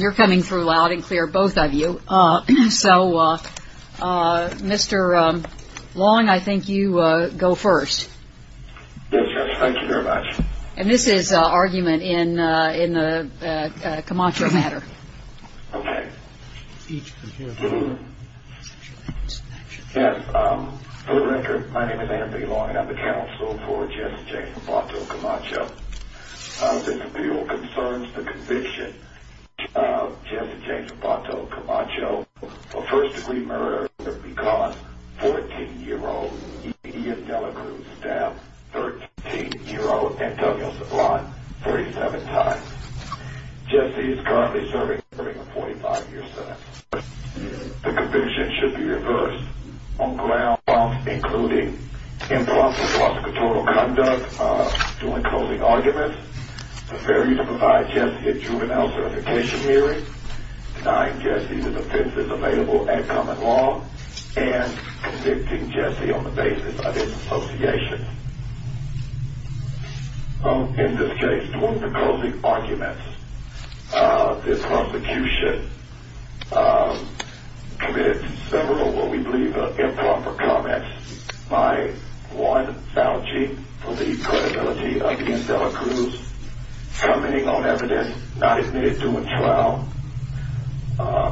You're coming through loud and clear, both of you. So, Mr. Long, I think you go first. Yes, yes, thank you very much. And this is an argument in the Camacho matter. Okay. Yes, for the record, my name is Andrew B. Long and I'm the counsel for Jesse J. Zapato Camacho. This appeal concerns the conviction of Jesse J. Zapato Camacho, a first-degree murderer who has been caught 14-year-old E. Ian Delacruz stabbed 13-year-old Antonio Sablon 37 times. Jesse is currently serving a 45-year sentence. The conviction should be reversed on grounds including impromptu philosophical conduct, doing closing arguments, the failure to provide Jesse a juvenile certification hearing, denying Jesse the defenses available at common law, and convicting Jesse on the basis of his association. In this case, doing the closing arguments, the prosecution committed several what we believe are improper comments by one, vouching for the credibility of Ian Delacruz, commenting on evidence not admitted to a trial,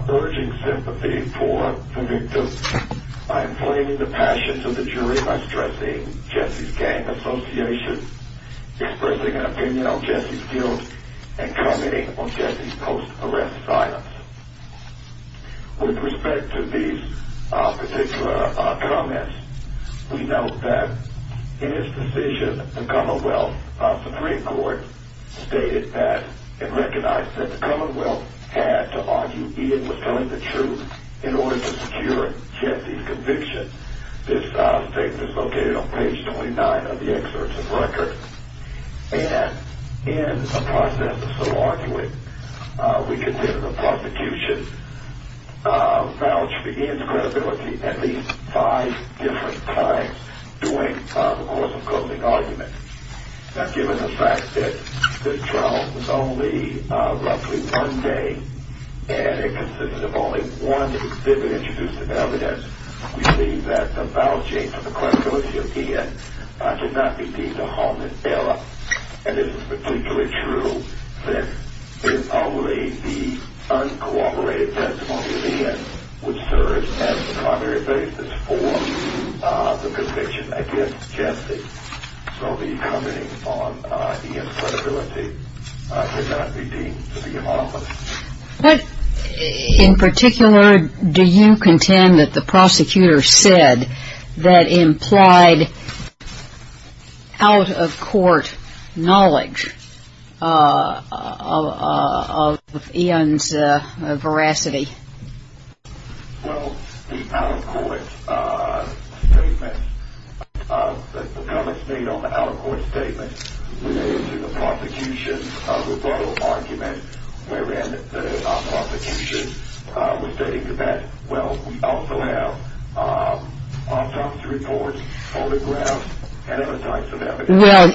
urging sympathy for the victim, inflaming the passions of the jury by stressing Jesse's gang association, expressing an opinion on Jesse's guilt, and commenting on Jesse's post-arrest silence. With respect to these particular comments, we note that in his decision, the Commonwealth Supreme Court stated that and recognized that the Commonwealth had to argue Ian was telling the truth in order to secure Jesse's conviction. This statement is located on page 29 of the excerpt of the record. And in the process of so arguing, we consider the prosecution vouched for Ian's credibility at least five different times during the course of closing arguments. Now, given the fact that this trial was only roughly one day, and it consisted of only one vivid, we believe that the vouching for the credibility of Ian did not be deemed a hominid error, and it is particularly true that, in our way, the uncooperated testimony of Ian would serve as the primary basis for the conviction against Jesse. So the commenting on Ian's credibility did not be deemed to be a hominid. What in particular do you contend that the prosecutor said that implied out-of-court knowledge of Ian's veracity? Well, the out-of-court statement, the comments made on the out-of-court statement related to the prosecution's rebuttal argument, wherein the prosecution was stating that, well, we also have autopsy reports, photographs, and other types of evidence. Well,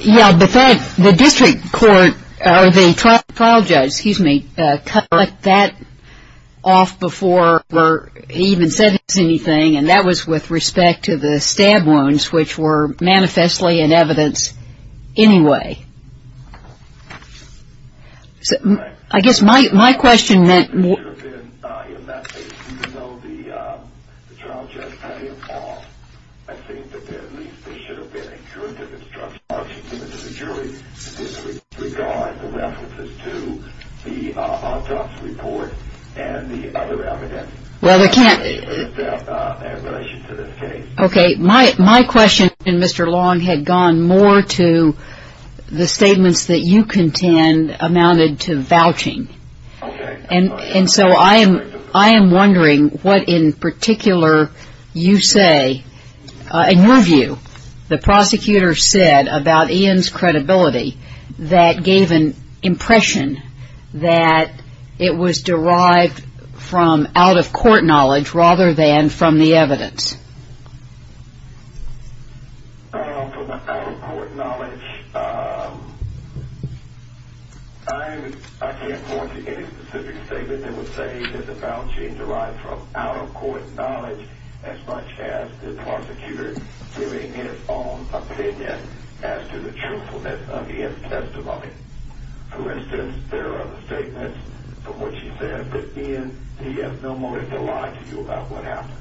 yeah, but the district court or the trial judge, excuse me, cut that off before he even said anything, and that was with respect to the stab wounds, which were manifestly in evidence anyway. I guess my question meant more. In that case, even though the trial judge cut him off, I think that there at least should have been a curative instruction given to the jury to disregard the references to the autopsy report and the other evidence. Well, we can't. Okay, my question, Mr. Long, had gone more to the statements that you contend amounted to vouching. And so I am wondering what in particular you say, in your view, the prosecutor said about Ian's credibility that gave an impression that it was derived from out-of-court knowledge rather than from the evidence. From out-of-court knowledge, I can't point to any specific statement that would say that the vouching derived from out-of-court knowledge as much as the prosecutor giving his own opinion as to the truthfulness of Ian's testimony. For instance, there are statements from which he said that Ian, he has no motive to lie to you about what happened.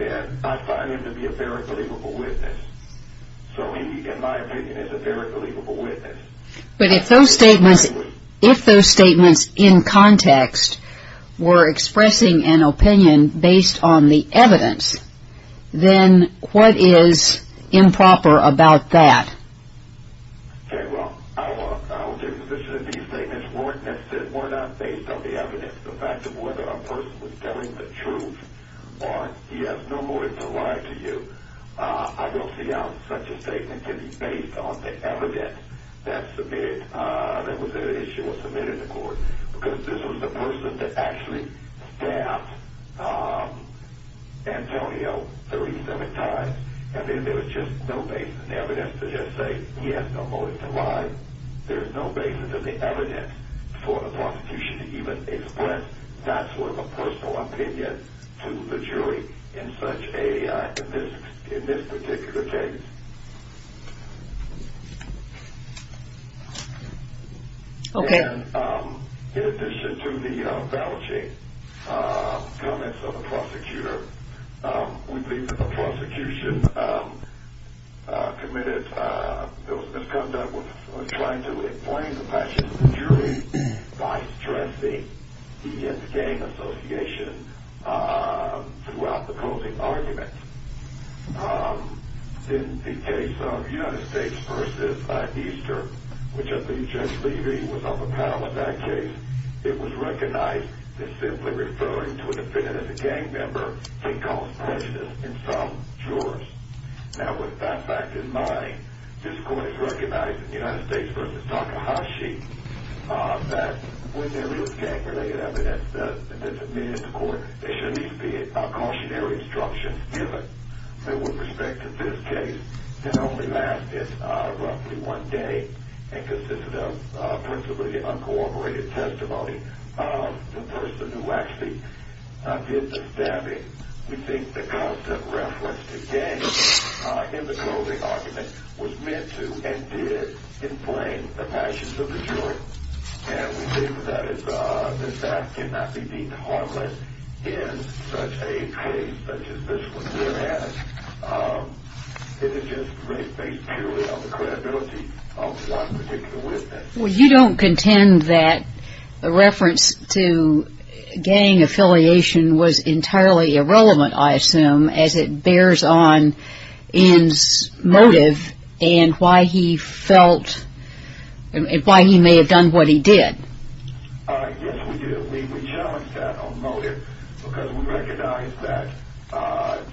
And I find him to be a very believable witness. So he, in my opinion, is a very believable witness. But if those statements in context were expressing an opinion based on the evidence, then what is improper about that? Okay, well, I will take the position that these statements were not based on the evidence. The fact of whether a person was telling the truth or he has no motive to lie to you, I don't see how such a statement can be based on the evidence that was submitted in court. Because this was the person that actually stabbed Antonio 37 times, and then there was just no basis in the evidence to just say he has no motive to lie. There's no basis in the evidence for the prosecution to even express that sort of a personal opinion to the jury in this particular case. Okay. In addition to the vouching comments of the prosecutor, we believe that the prosecution committed those misconducts was trying to inflame the passion of the jury by stressing he and the gang association throughout the closing argument. In the case of United States v. Easter, which I believe Jeff Levy was on the panel in that case, it was recognized that simply referring to a defendant as a gang member can cause prejudice in some jurors. Now, with that fact in mind, this court has recognized in United States v. Takahashi that when there is gang-related evidence that's submitted to court, there should at least be a cautionary instruction given that with respect to this case, it only lasted roughly one day and consisted of principally uncooperative testimony of the person who actually did the stabbing. We think the constant reference to gangs in the closing argument was meant to and did inflame the passions of the jury, and we believe that that cannot be deemed harmless in such a case such as this one here has. It is just based purely on the credibility of one particular witness. Well, you don't contend that the reference to gang affiliation was entirely irrelevant, I assume, as it bears on N's motive and why he may have done what he did. Yes, we do. I believe we challenge that on motive because we recognize that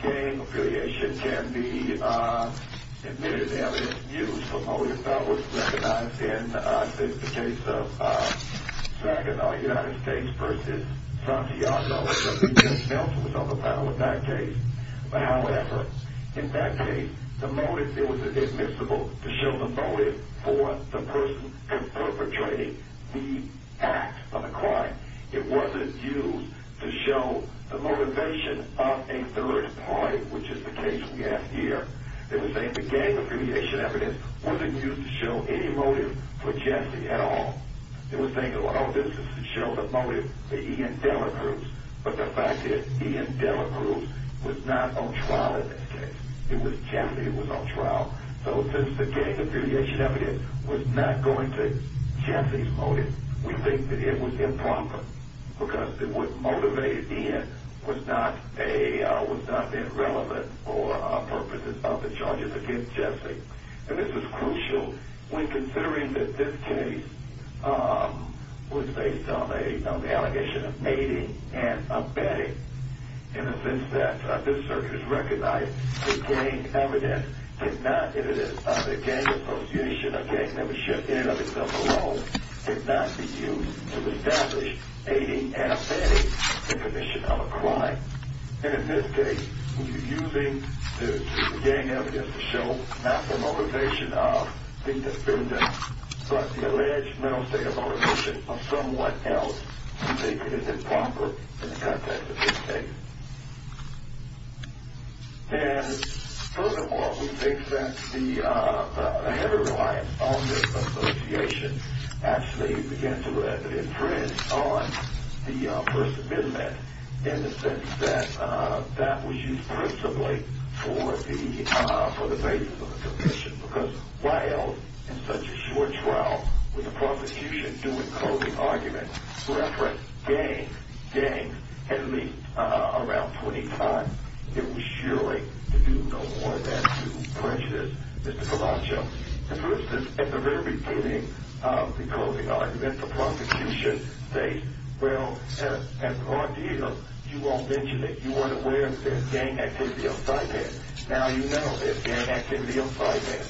gang affiliation can be admitted evidence used for motive that was recognized in the case of Sagan, United States v. Santiago, because he himself was on the panel in that case. However, in that case, the motive, it was admissible to show the motive for the person perpetrating the act of the crime. It wasn't used to show the motivation of a third party, which is the case we have here. They were saying the gang affiliation evidence wasn't used to show any motive for Jesse at all. They were saying, oh, this is to show the motive that Ian Dell approves, but the fact that Ian Dell approves was not on trial in that case. It was Jesse who was on trial. So since the gang affiliation evidence was not going to Jesse's motive, we think that it was improper because what motivated Ian was not being relevant for purposes of the charges against Jesse. And this is crucial when considering that this case was based on the allegation of aiding and abetting. In the sense that this circuit has recognized that gang evidence did not, if it is a gang affiliation or gang membership in and of itself alone, did not be used to establish aiding and abetting the condition of a crime. And in this case, when you're using the gang evidence to show not the motivation of the defendant, but the alleged mental state of motivation of someone else, we think it is improper in the context of this case. And furthermore, we think that the heavy reliance on this association actually began to imprint on the First Amendment in the sense that that was used principally for the basis of the condition. Because why else in such a short trial with a prosecution doing clothing arguments to reference gang, gang, at least around 25, it was surely to do no more than to prejudice Mr. Colaccio. For instance, at the very beginning of the clothing argument, the prosecution states, well, at the ordeal, you won't mention it, you weren't aware that there's gang activity outside there. Now you know there's gang activity outside there.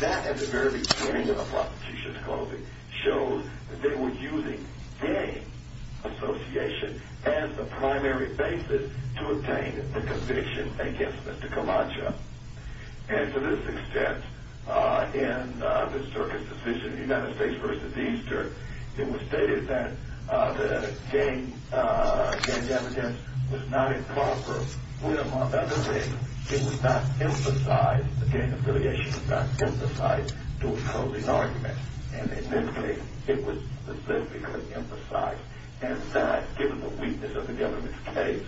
That, at the very beginning of the prosecution's clothing, shows that they were using gang association as the primary basis to obtain the conviction against Mr. Colaccio. And to this extent, in the Circus' decision, United States v. Easter, it was stated that the gang evidence was not improper. Well, among other things, it was not emphasized, the gang affiliation was not emphasized during clothing arguments. And in this case, it was specifically emphasized. And that, given the weakness of the government's case,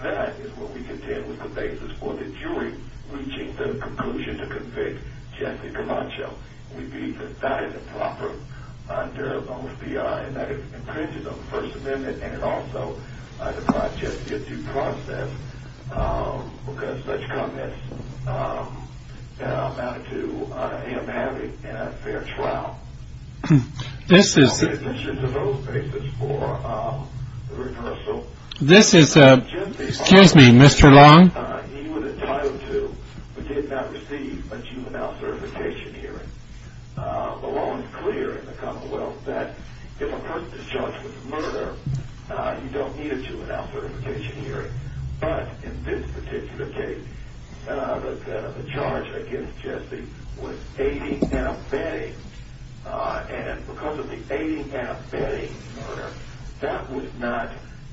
that is what we contend with the basis for the jury reaching the conclusion to convict Jesse Colaccio. We believe that that is improper under most B.I. and that it infringes on the First Amendment and it also deprived Jesse of due process because such comments amounted to him having an unfair trial. Now, in addition to those basis for the reversal, Jesse Colaccio, he was entitled to, but did not receive a juvenile certification hearing. The law is clear in the Commonwealth that if a person is charged with murder, you don't need a juvenile certification hearing. But in this particular case, the charge against Jesse was aiding and abetting. And because of the aiding and abetting murder, that was not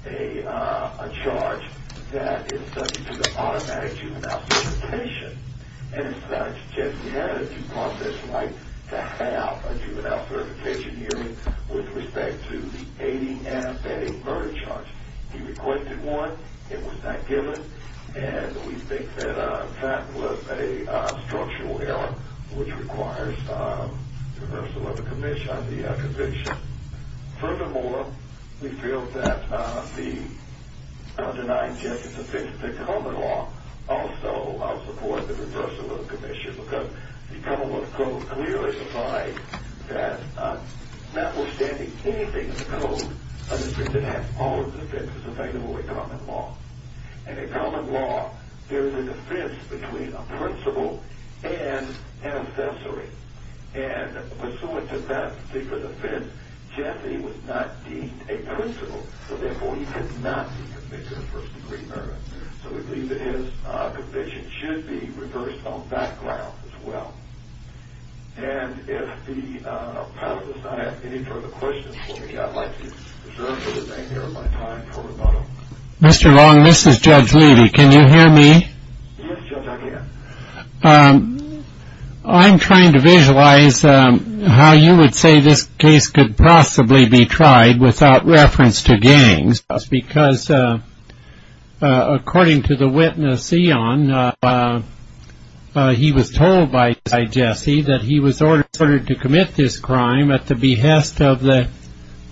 a charge that is subject to the automatic juvenile certification. And as such, Jesse had a due process right to have a juvenile certification hearing with respect to the aiding and abetting murder charge. He requested one. It was not given. And we think that that was a structural error which requires the reversal of the conviction. Furthermore, we feel that the undenying justice offense, the common law, also supports the reversal of the conviction because the Commonwealth Code clearly defies that. Notwithstanding anything in the Code, a district that has all of the offenses available in common law. And in common law, there is a defense between a principle and an offensory. And pursuant to that particular defense, Jesse was not deemed a principle, so therefore he could not be convicted of first-degree murder. So we believe that his conviction should be reversed on that ground as well. And if the panel does not have any further questions for me, I'd like to reserve for the remainder of my time for a moment. Mr. Long, this is Judge Levy. Can you hear me? Yes, Judge, I can. I'm trying to visualize how you would say this case could possibly be tried without reference to gangs. Because according to the witness, Eon, he was told by Jesse that he was ordered to commit this crime at the behest of the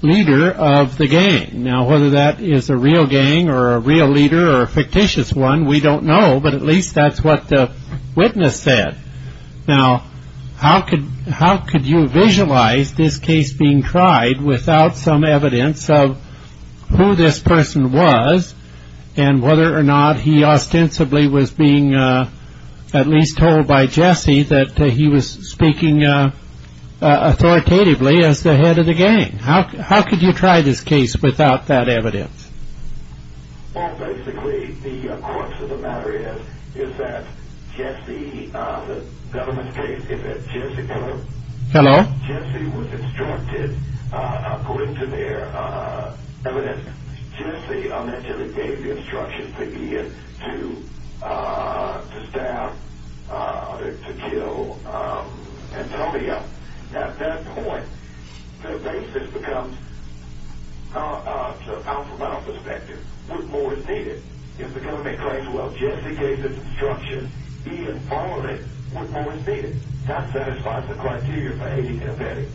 leader of the gang. Now, whether that is a real gang or a real leader or a fictitious one, we don't know. But at least that's what the witness said. Now, how could you visualize this case being tried without some evidence of who this person was and whether or not he ostensibly was being at least told by Jesse that he was speaking authoritatively as the head of the gang? How could you try this case without that evidence? Well, basically, the crux of the matter is that Jesse, the government's case, is that Jesse was instructed, according to their evidence, Jesse allegedly gave the instructions to Eon to stab, to kill Antonio. Now, at that point, the basis becomes, from my own perspective, what more is needed? If the government claims, well, Jesse gave this instruction, Eon followed it, what more is needed? That satisfies the criteria for aiding and abetting.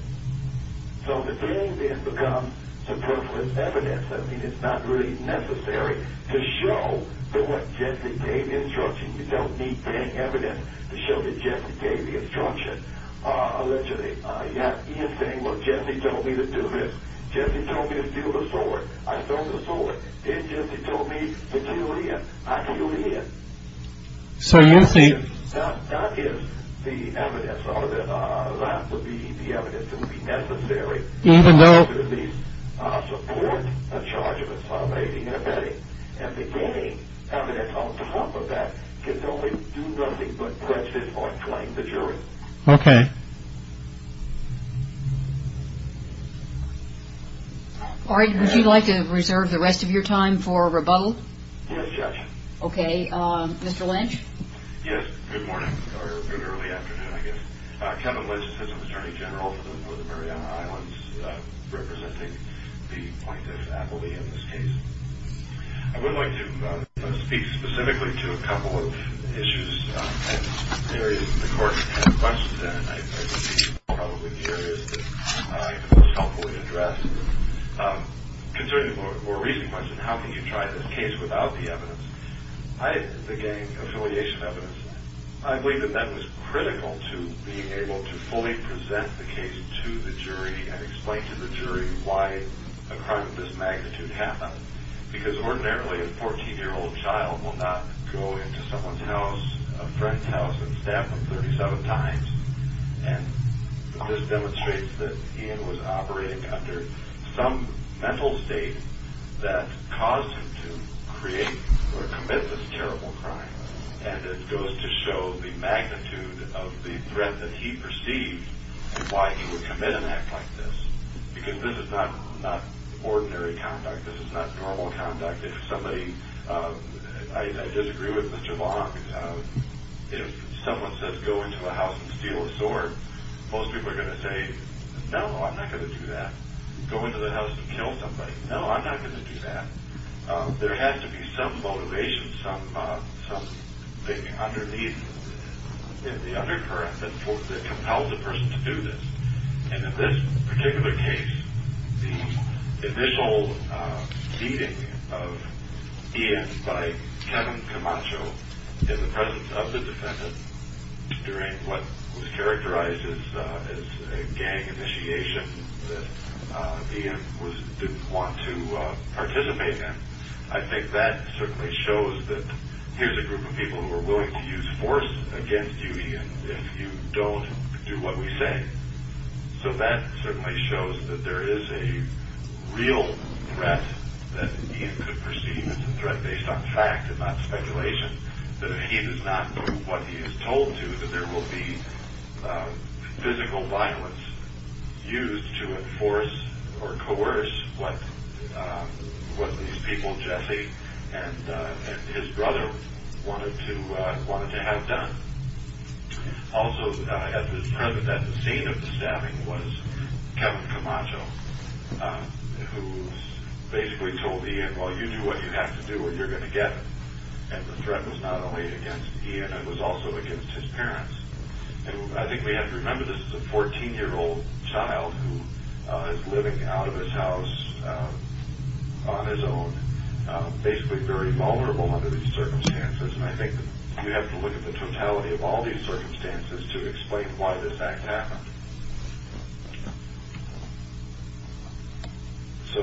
So the gang then becomes superfluous evidence. I mean, it's not really necessary to show that Jesse gave the instruction. You don't need gang evidence to show that Jesse gave the instruction. Allegedly, you have Eon saying, well, Jesse told me to do this. Jesse told me to steal the sword. I stole the sword. Then Jesse told me to kill Eon. I killed Eon. So Eon thinks that gives the evidence, or that would be the evidence that would be necessary to at least support a charge of inciting and abetting. And the gang evidence on top of that can only do nothing but prejudice or claim the jury. OK. Would you like to reserve the rest of your time for rebuttal? Yes, Judge. OK. Mr. Lynch? Yes. Good morning, or good early afternoon, I guess. Kevin Lynch, Assistant Attorney General for the Northern Mariana Islands, representing the plaintiffs' faculty in this case. I would like to speak specifically to a couple of issues and areas that the court had questions in, and I think these are probably the areas that I can most helpfully address. Concerning the more recent question, how can you try this case without the evidence, the gang affiliation evidence, I believe that that was critical to being able to fully present the case to the jury and explain to the jury why a crime of this magnitude happened, because ordinarily a 14-year-old child will not go into someone's house, a friend's house, and stab them 37 times. And this demonstrates that Eon was operating under some mental state that caused him to create or commit this terrible crime, and it goes to show the magnitude of the threat that he perceived and why he would commit an act like this, because this is not ordinary conduct. This is not normal conduct. If somebody, I disagree with Mr. Long, if someone says, go into a house and steal a sword, most people are going to say, no, I'm not going to do that. Go into the house and kill somebody. No, I'm not going to do that. There has to be some motivation, some thing underneath the undercurrent that compels a person to do this. And in this particular case, the initial beating of Eon by Kevin Camacho in the presence of the defendant during what was characterized as a gang initiation that Eon didn't want to participate in, I think that certainly shows that here's a group of people who are willing to use force against you, Eon, if you don't do what we say. So that certainly shows that there is a real threat that Eon could perceive as a threat based on fact and not speculation, that if he does not do what he is told to, that there will be physical violence used to enforce or coerce what these people, Jesse and his brother, wanted to have done. Also at the scene of the stabbing was Kevin Camacho, who basically told Eon, well, you do what you have to do or you're going to get it. And the threat was not only against Eon, it was also against his parents. And I think we have to remember this is a 14-year-old child who is living out of his house on his own, basically very vulnerable under these circumstances, and I think we have to look at the totality of all these circumstances to explain why this act happened. So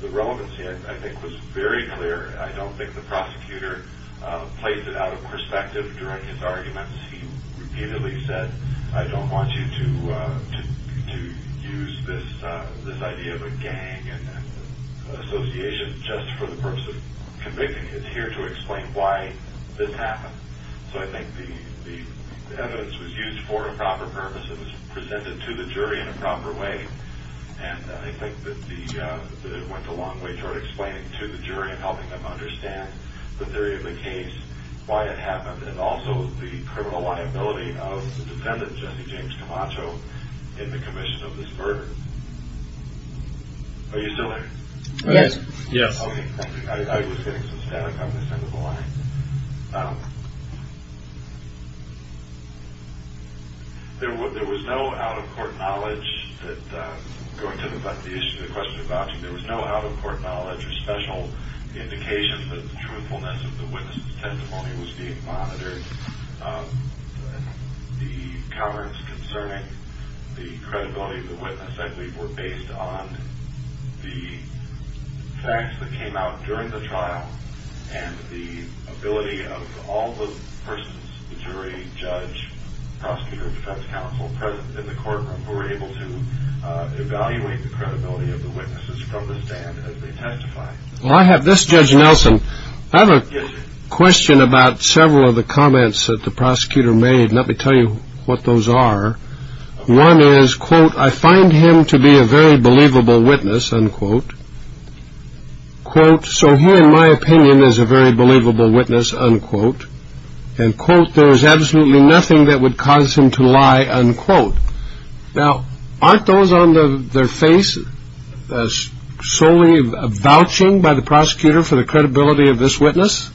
the relevancy, I think, was very clear. I don't think the prosecutor placed it out of perspective during his arguments. He repeatedly said, I don't want you to use this idea of a gang and association just for the purpose of convicting. It's here to explain why this happened. So I think the evidence was used for a proper purpose. It was presented to the jury in a proper way, and I think that it went a long way toward explaining to the jury and helping them understand that there is a case, why it happened, and also the criminal liability of the defendant, Jesse James Camacho, in the commission of this murder. Are you still there? Yes. Okay, thank you. I was getting some static on this end of the line. There was no out-of-court knowledge that, going to the question about you, there was no out-of-court knowledge or special indication that the truthfulness of the witness' testimony was being monitored. The comments concerning the credibility of the witness, I believe, were based on the facts that came out during the trial and the ability of all the persons, the jury, judge, prosecutor, defense counsel present in the courtroom who were able to evaluate the credibility of the witnesses from the stand as they testified. Well, I have this, Judge Nelson. I have a question about several of the comments that the prosecutor made, and let me tell you what those are. One is, quote, I find him to be a very believable witness, unquote. Quote, so he, in my opinion, is a very believable witness, unquote. And quote, there is absolutely nothing that would cause him to lie, unquote. Now, aren't those on their face solely a vouching by the prosecutor for the credibility of this witness?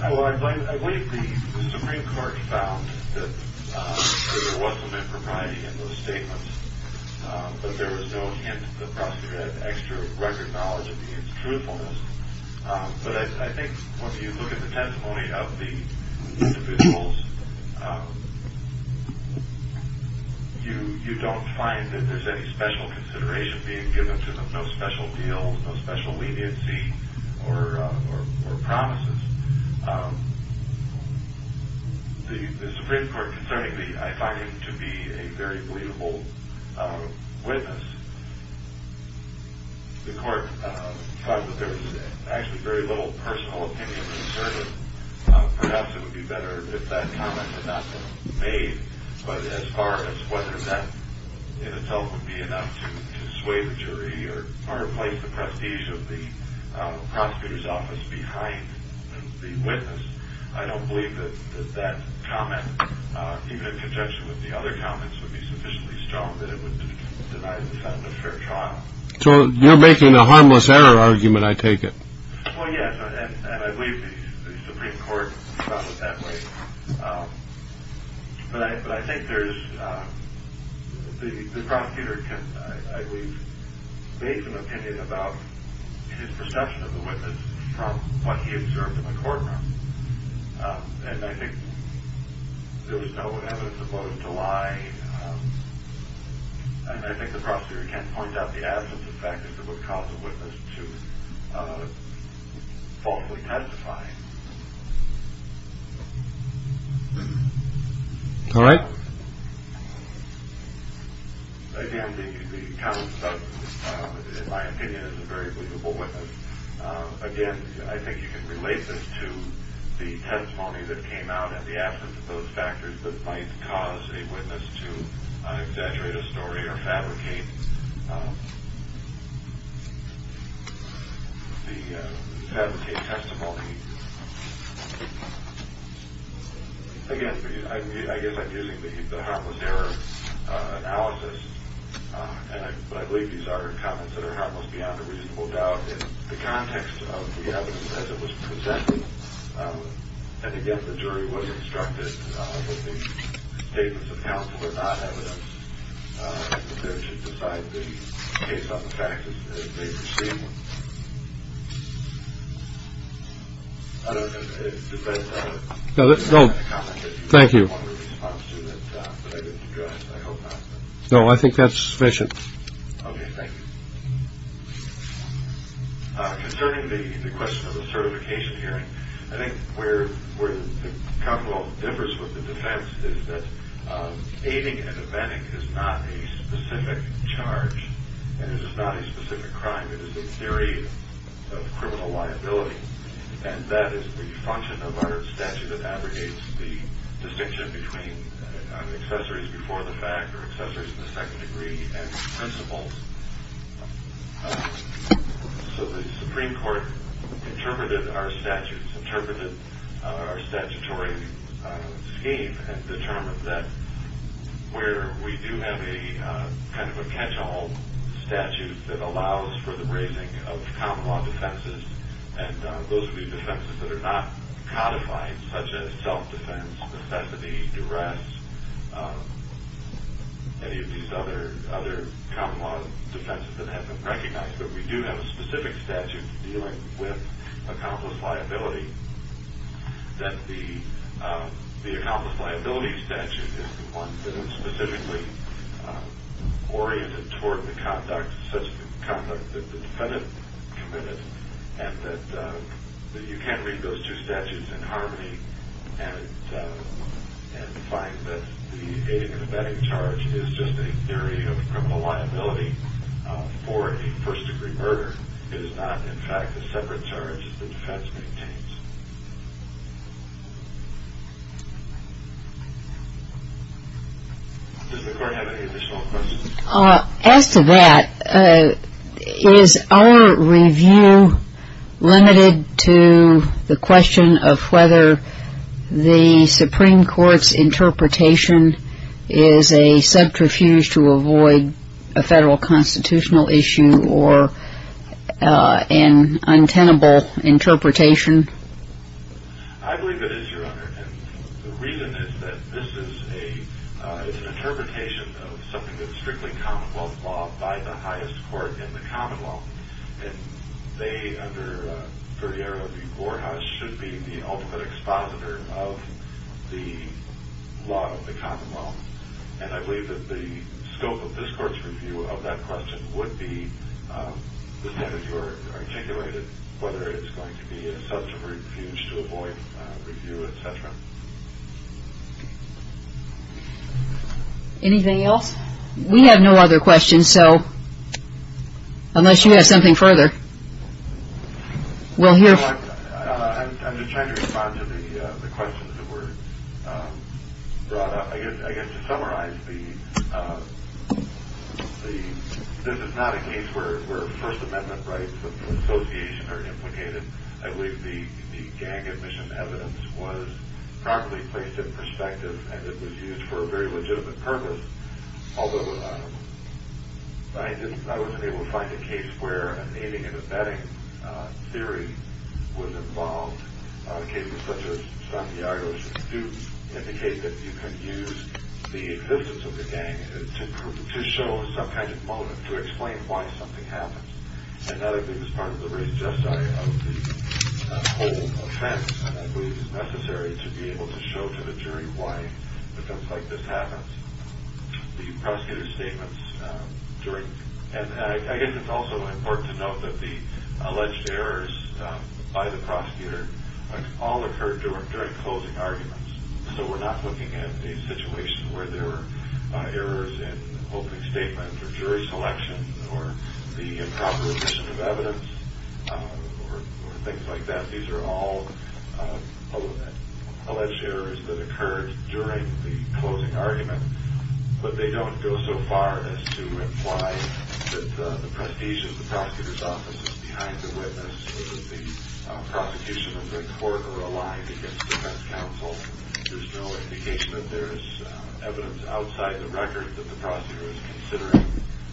Well, I believe the Supreme Court found that there was some impropriety in those statements, but there was no hint that the prosecutor had extra record knowledge of the truthfulness. But I think when you look at the testimony of the individuals, you don't find that there's any special consideration being given to them, no special deal, no special leniency or promises. The Supreme Court concerning the I find him to be a very believable witness, the court found that there was actually very little personal opinion concerning, perhaps it would be better if that comment had not been made, but as far as whether that in itself would be enough to sway the jury or place the prestige of the prosecutor's office behind the witness, I don't believe that that comment, even in conjunction with the other comments, would be sufficiently strong that it would deny the defendant a fair trial. So you're making a harmless error argument, I take it? Well, yes, and I believe the Supreme Court found it that way. But I think there's, the prosecutor can, I believe, make an opinion about his perception of the witness from what he observed in the courtroom. And I think there was no evidence as opposed to why, and I think the prosecutor can point out the absence of fact that it would cause a witness to falsely testify. All right. Again, the comments of, in my opinion, is a very believable witness. Again, I think you can relate this to the testimony that came out and the absence of those factors that might cause a witness to exaggerate a story or fabricate testimony. Again, I guess I'm using the harmless error analysis, but I believe these are comments that are almost beyond a reasonable doubt in the context of the evidence as it was presented. And again, the jury was instructed that the statements of counsel are not evidence that should decide the case on the facts as they perceive them. I don't know if that's a comment that you want to respond to that I didn't address. I hope not. No, I think that's sufficient. Okay, thank you. Concerning the question of the certification hearing, I think where the Commonwealth differs with the defense is that aiding and abetting is not a specific charge and it is not a specific crime, it is a theory of criminal liability, and that is the function of our statute that abrogates the distinction between accessories before the fact or accessories in the second degree and principles. So the Supreme Court interpreted our statutes, interpreted our statutory scheme and determined that where we do have a kind of a catch-all statute that allows for the raising of common law defenses, and those would be defenses that are not codified such as self-defense, necessity, duress, any of these other common law defenses that have been recognized, but we do have a specific statute dealing with accomplice liability, that the accomplice liability statute is the one that is specifically oriented toward the conduct of such an accomplice that the defendant committed, and that you can read those two statutes in harmony and find that the aiding and abetting charge is just a theory of criminal liability for a first-degree murder. It is not, in fact, a separate charge that the defense maintains. Does the Court have any additional questions? As to that, is our review limited to the question of whether the Supreme Court's interpretation is a subterfuge to avoid a federal constitutional issue or an untenable interpretation? I believe it is, Your Honor. And the reason is that this is an interpretation of something that is strictly common-law by the highest court in the common law, and they, under Ferriero v. Borjas, should be the ultimate expositor of the law of the common law. And I believe that the scope of this Court's review of that question would be the same as Your Honor articulated, whether it's going to be a subterfuge to avoid review, et cetera. Anything else? We have no other questions, so unless you have something further, we'll hear. Your Honor, I'm just trying to respond to the questions that were brought up. I guess to summarize, this is not a case where First Amendment rights of association are implicated. I believe the gang admission evidence was properly placed in perspective, and it was used for a very legitimate purpose, although I wasn't able to find a case where a naming and abetting theory was involved. Cases such as Santiago's do indicate that you can use the existence of the gang to show some kind of motive, to explain why something happens. And that, I think, is part of the race justice of the whole offense, and I believe it's necessary to be able to show to the jury why things like this happen. The prosecutor's statements during... And I guess it's also important to note that the alleged errors by the prosecutor all occurred during closing arguments, so we're not looking at a situation where there were errors in opening statements or jury selection or the improper addition of evidence or things like that. These are all alleged errors that occurred during the closing argument, but they don't go so far as to imply that the prestige of the prosecutor's office is behind the witness, that the prosecution and the court are aligned against defense counsel. There's no indication that there's evidence outside the record that the prosecutor is considering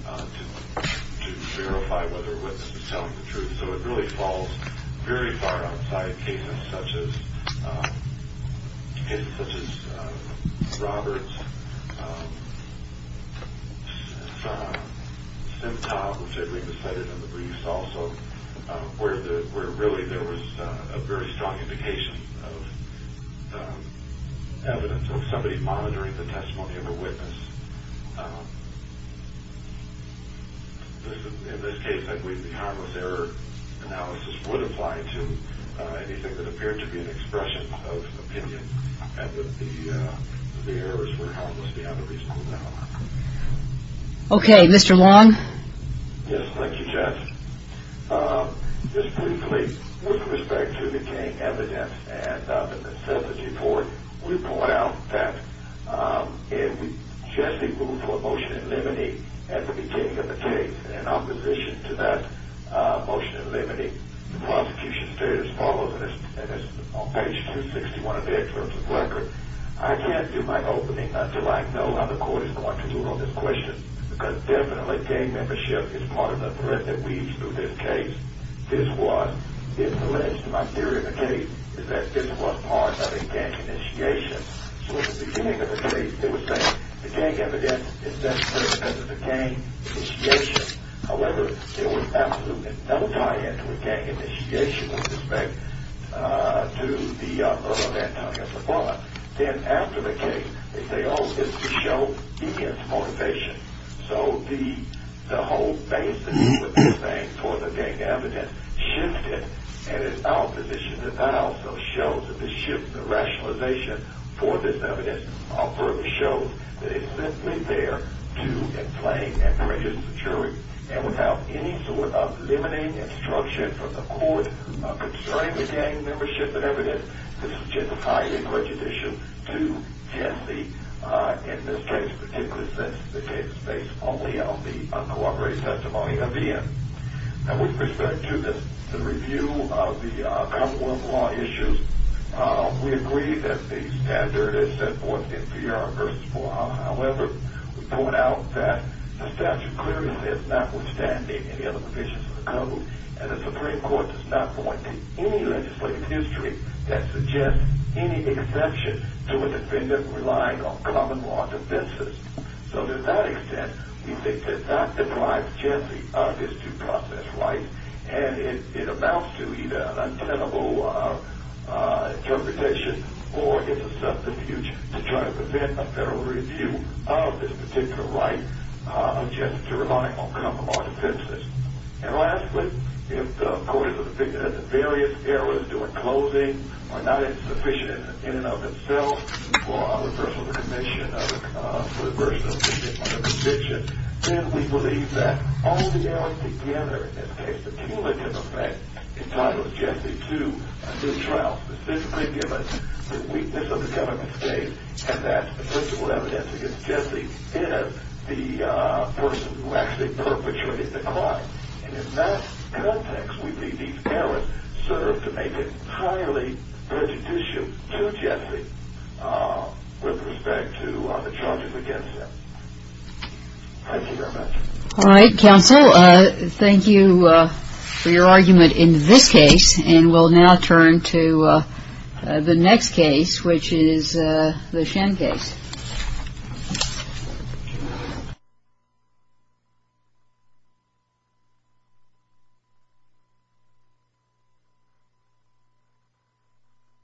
to verify whether a witness is telling the truth. And so it really falls very far outside cases such as Roberts, Simtah, which I believe is cited in the briefs also, where really there was a very strong indication of evidence of somebody monitoring the testimony of a witness. In this case, I believe the harmless error analysis would apply to anything that appeared to be an expression of an opinion and that the errors were harmless beyond a reasonable doubt. Okay. Mr. Long? Yes. Thank you, Jess. Just briefly, with respect to obtaining evidence and the necessity for it, we point out that if Jesse ruled for a motion in limine at the beginning of the case in opposition to that motion in limine, the prosecution stated as follows, and it's on page 261 of their terms of record, I can't do my opening until I know how the court is going to rule on this question because definitely gang membership is part of the threat that weaves through this case. This was, if alleged to my theory of the case, is that this was part of a gang initiation. So at the beginning of the case, they were saying the gang evidence is definitely independent of the gang initiation. However, there was absolutely no tie-in to a gang initiation with respect to the murder of Antonio Zafala. Then after the case, they say, oh, this would show devious motivation. So the whole basis of what they're saying for the gang evidence shifted in its opposition and that also shows that the shift in rationalization for this evidence further shows that it's simply there to inflame and pressure the jury. And without any sort of limiting instruction from the court concerning the gang membership and evidence, this is just a tie-in prejudice issue to test the administration, particularly since the case is based only on the uncooperative testimony of Ian. Now, with respect to the review of the Commonwealth law issues, we agree that the standard is set forth in PR v. 4H. However, we point out that the statute clearly says notwithstanding any other provisions of the code and the Supreme Court does not point to any legislative history that suggests any exception to a defendant relying on common law defenses. So to that extent, we think that that deprives Jesse of his due process right and it amounts to either an untenable interpretation or it's a substitute to try to prevent a federal review of this particular right of Jesse to rely on common law defenses. And lastly, if the court is of the opinion that the various errors during closing are not insufficient in and of themselves for reversal of the conviction, then we believe that all the errors together in this case, the cumulative effect entitled Jesse to a new trial specifically given the weakness of the government state and that the principal evidence against Jesse is the person who actually perpetrated the crime. And in that context, we believe these errors serve to make it highly prejudicial to Jesse with respect to the charges against him. Thank you very much. All right, counsel. Thank you for your argument in this case. And we'll now turn to the next case, which is the Shen case.